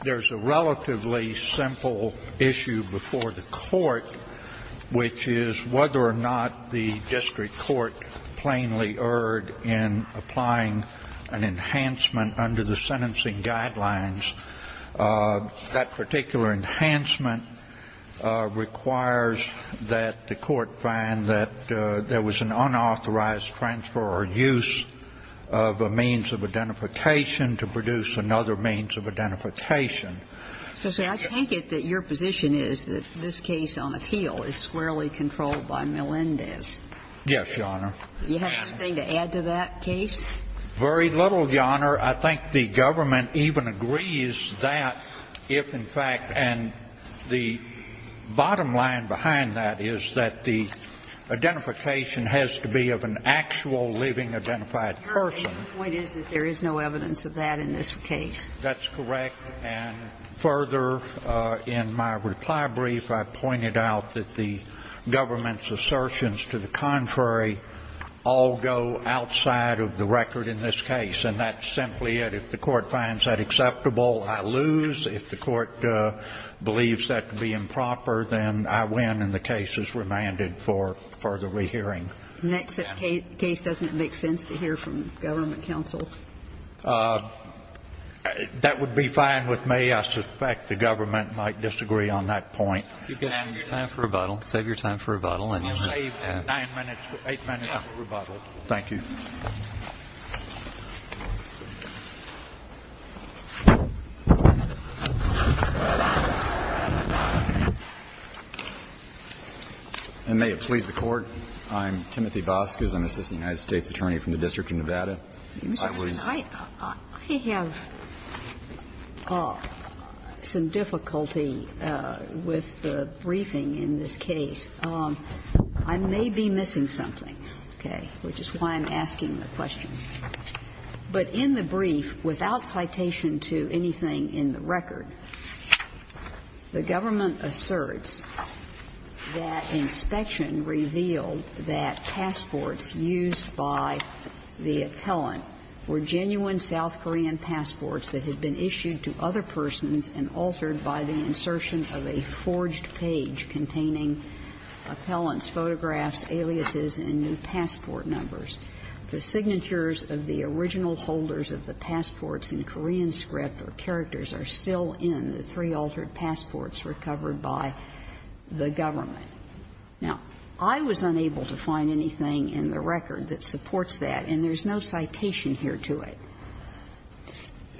There is a relatively simple issue before the court, which is whether or not the district court plainly erred in applying an enhancement under the sentencing guidelines. That particular enhancement requires that the court find that there was an unauthorized transfer or use of a means of identification to produce another means of identification. So, sir, I take it that your position is that this case on appeal is squarely controlled by Melendez. Yes, Your Honor. Do you have anything to add to that case? Very little, Your Honor. I think the government even agrees that if, in fact, and the bottom line behind that is that the identification has to be of an actual living identified person. Your point is that there is no evidence of that in this case. That's correct. And further, in my reply brief, I pointed out that the government's assertions to the contrary all go outside of the record in this case, and that's simply it. If the court finds that acceptable, I lose. If the court believes that to be improper, then I win and the case is remanded for further rehearing. In that case, doesn't it make sense to hear from government counsel? That would be fine with me. I suspect the government might disagree on that point. Save your time for rebuttal. I'll save 9 minutes, 8 minutes for rebuttal. Thank you. And may it please the Court, I'm Timothy Vasquez. I'm an assistant United States attorney from the District of Nevada. I have some difficulty with the briefing in this case. I may be missing something, okay, which is why I'm asking the question. But in the brief, without citation to anything in the record, the government asserts that inspection revealed that passports used by the appellant were genuine South Korean passports that had been issued to other persons and altered by the insertion of a forged page containing appellant's photographs, aliases, and new passport the government. Now, I was unable to find anything in the record that supports that, and there's no citation here to it.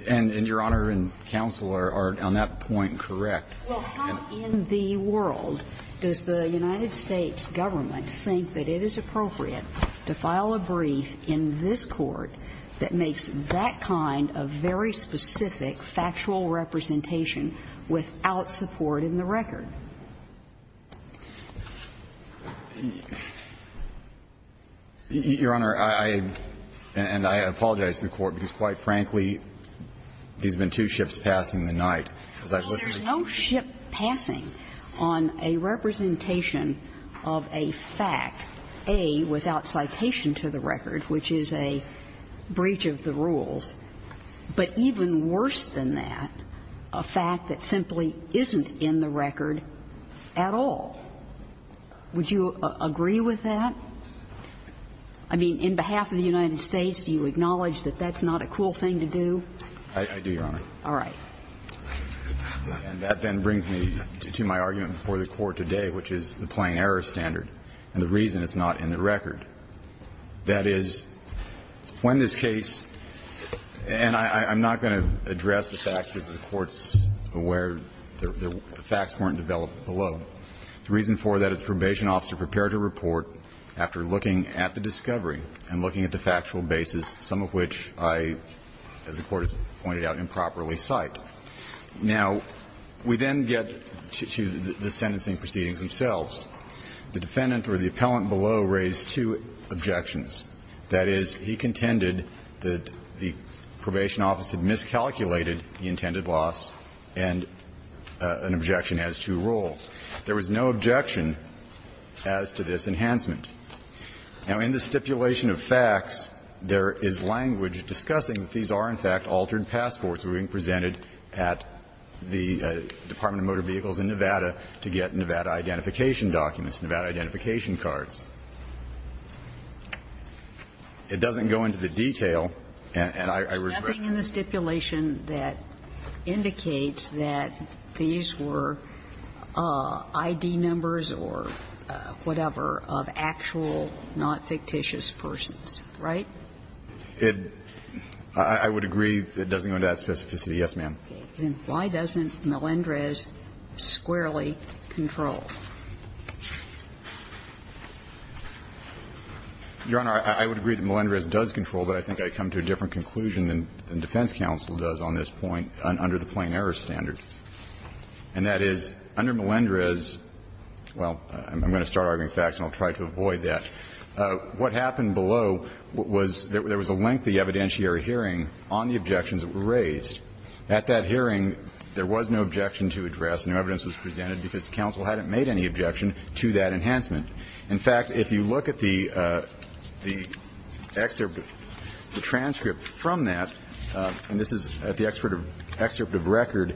And Your Honor and counsel are on that point correct. Well, how in the world does the United States government think that it is appropriate to file a brief in this Court that makes that kind of very specific factual representation without support in the record? Your Honor, I — and I apologize to the Court because, quite frankly, there's been two ships passing the night as I've listened to you. I mean, there's no ship passing on a representation of a fact, A, without citation to the record, which is a breach of the rules, but even worse than that, a fact that simply isn't in the record at all. Would you agree with that? I mean, in behalf of the United States, do you acknowledge that that's not a cool thing to do? I do, Your Honor. All right. And that then brings me to my argument before the Court today, which is the plain error standard and the reason it's not in the record, that is, when this case — and I'm not going to address the fact because the Court's aware the facts weren't developed below. The reason for that is probation officer prepared to report after looking at the discovery and looking at the factual basis, some of which I, as the Court has pointed out, improperly cite. Now, we then get to the sentencing proceedings themselves. The defendant or the appellant below raised two objections. That is, he contended that the probation office had miscalculated the intended loss and an objection as to rule. There was no objection as to this enhancement. Now, in the stipulation of facts, there is language discussing that these are, in fact, altered passports being presented at the Department of Motor Vehicles in Nevada to get Nevada identification documents, Nevada identification cards. It doesn't go into the detail, and I regret that. Nothing in the stipulation that indicates that these were I.D. numbers or whatever of actual, not fictitious persons, right? I would agree it doesn't go into that specificity, yes, ma'am. Then why doesn't Melendrez squarely control? Your Honor, I would agree that Melendrez does control, but I think I come to a different conclusion than defense counsel does on this point under the plain error standard. And that is, under Melendrez, well, I'm going to start arguing facts and I'll try to avoid that. What happened below was there was a lengthy evidentiary hearing on the objections that were raised. At that hearing, there was no objection to address, no evidence was presented because counsel hadn't made any objection to that enhancement. In fact, if you look at the excerpt, the transcript from that, and this is at the excerpt of record,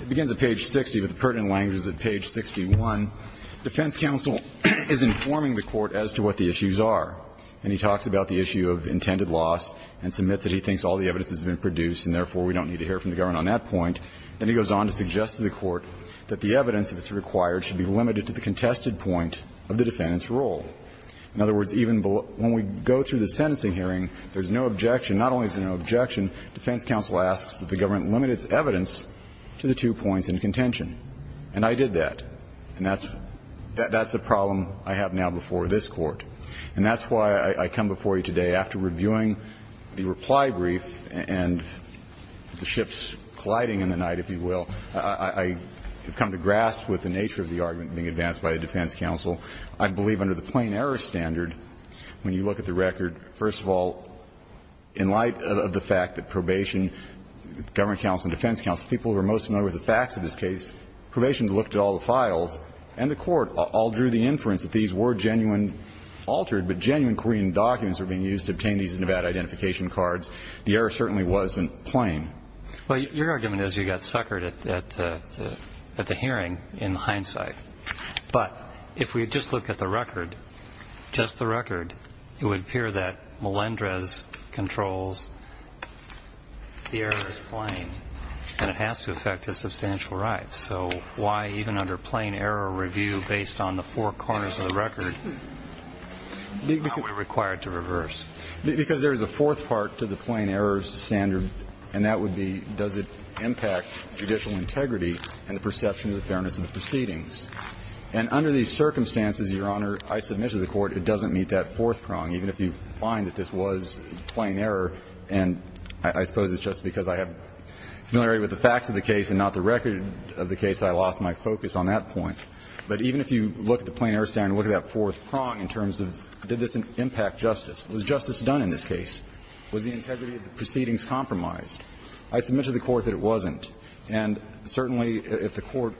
it begins at page 60, but the pertinent language is at page 61. Defense counsel is informing the Court as to what the issues are, and he talks about the issue of intended loss and submits that he thinks all the evidence has been produced and therefore we don't need to hear from the government on that point. Then he goes on to suggest to the Court that the evidence, if it's required, should be limited to the contested point of the defendant's role. In other words, even when we go through the sentencing hearing, there's no objection. Not only is there no objection, defense counsel asks that the government limit its evidence to the two points in contention. And I did that. And that's the problem I have now before this Court. And that's why I come before you today after reviewing the reply brief and the ships colliding in the night, if you will, I have come to grasp with the nature of the argument being advanced by the defense counsel. I believe under the plain error standard, when you look at the record, first of all, in light of the fact that probation, government counsel and defense counsel, people who are most familiar with the facts of this case, probation looked at all the files and the Court all drew the inference that these were genuine altered but genuine Korean documents that were being used to obtain these Nevada identification cards. The error certainly wasn't plain. Well, your argument is you got suckered at the hearing in hindsight. But if we just look at the record, just the record, it would appear that Melendrez controls the error as plain, and it has to affect his substantial rights. So why, even under plain error review, based on the four corners of the record, are we required to reverse? Because there is a fourth part to the plain error standard, and that would be does it impact judicial integrity and the perception of the fairness of the proceedings. And under these circumstances, Your Honor, I submit to the Court it doesn't meet that fourth prong, even if you find that this was plain error. And I suppose it's just because I have familiarity with the facts of the case and not the record of the case that I lost my focus on that point. But even if you look at the plain error standard and look at that fourth prong in terms of did this impact justice, was justice done in this case, was the integrity of the proceedings compromised, I submit to the Court that it wasn't. And certainly, if the Court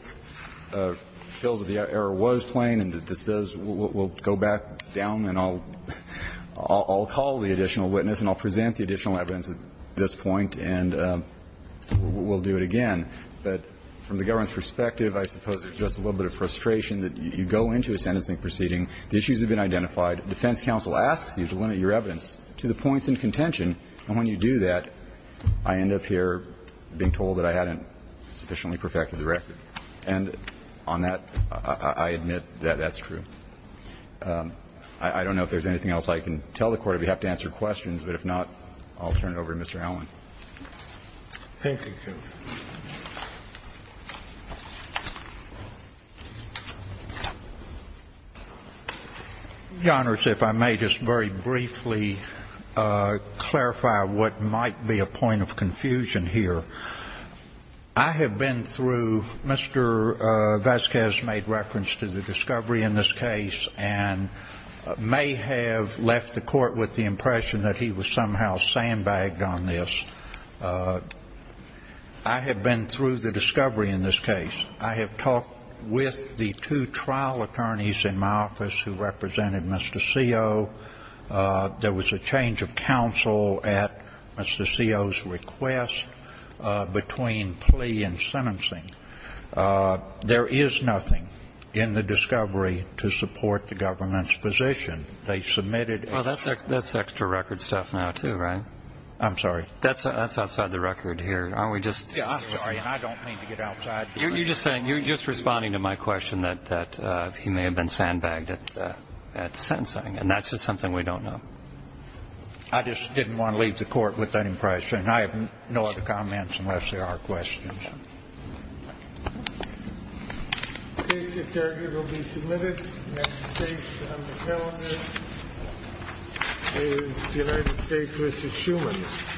feels that the error was plain and that this does, we'll go back down and I'll call the additional witness and I'll present the additional evidence at this point and we'll do it again. But from the government's perspective, I suppose there's just a little bit of frustration that you go into a sentencing proceeding, the issues have been identified, defense counsel asks you to limit your evidence to the points in contention, and when you do that, I end up here being told that I hadn't sufficiently perfected the record. And on that, I admit that that's true. I don't know if there's anything else I can tell the Court. If you have to answer questions, but if not, I'll turn it over to Mr. Allen. Thank you, counsel. Your Honors, if I may just very briefly clarify what might be a point of confusion here. I have been through, Mr. Vasquez made reference to the discovery in this case and may have left the Court with the impression that he was somehow sandbagged on this. I have been through the discovery in this case. I have talked with the two trial attorneys in my office who represented Mr. Ceo. There was a change of counsel at Mr. Ceo's request between plea and sentencing. There is nothing in the discovery to support the government's position. They submitted a... Well, that's extra record stuff now, too, right? I'm sorry? That's outside the record here. Aren't we just... Yeah, I'm sorry, and I don't mean to get outside... You're just saying, you're just responding to my question that he may have been sandbagged at sentencing. And that's just something we don't know. I just didn't want to leave the Court with that impression. I have no other comments unless there are questions. Thank you. The case, if there are, will be submitted. Next case on the calendar is the United States v. Schuman.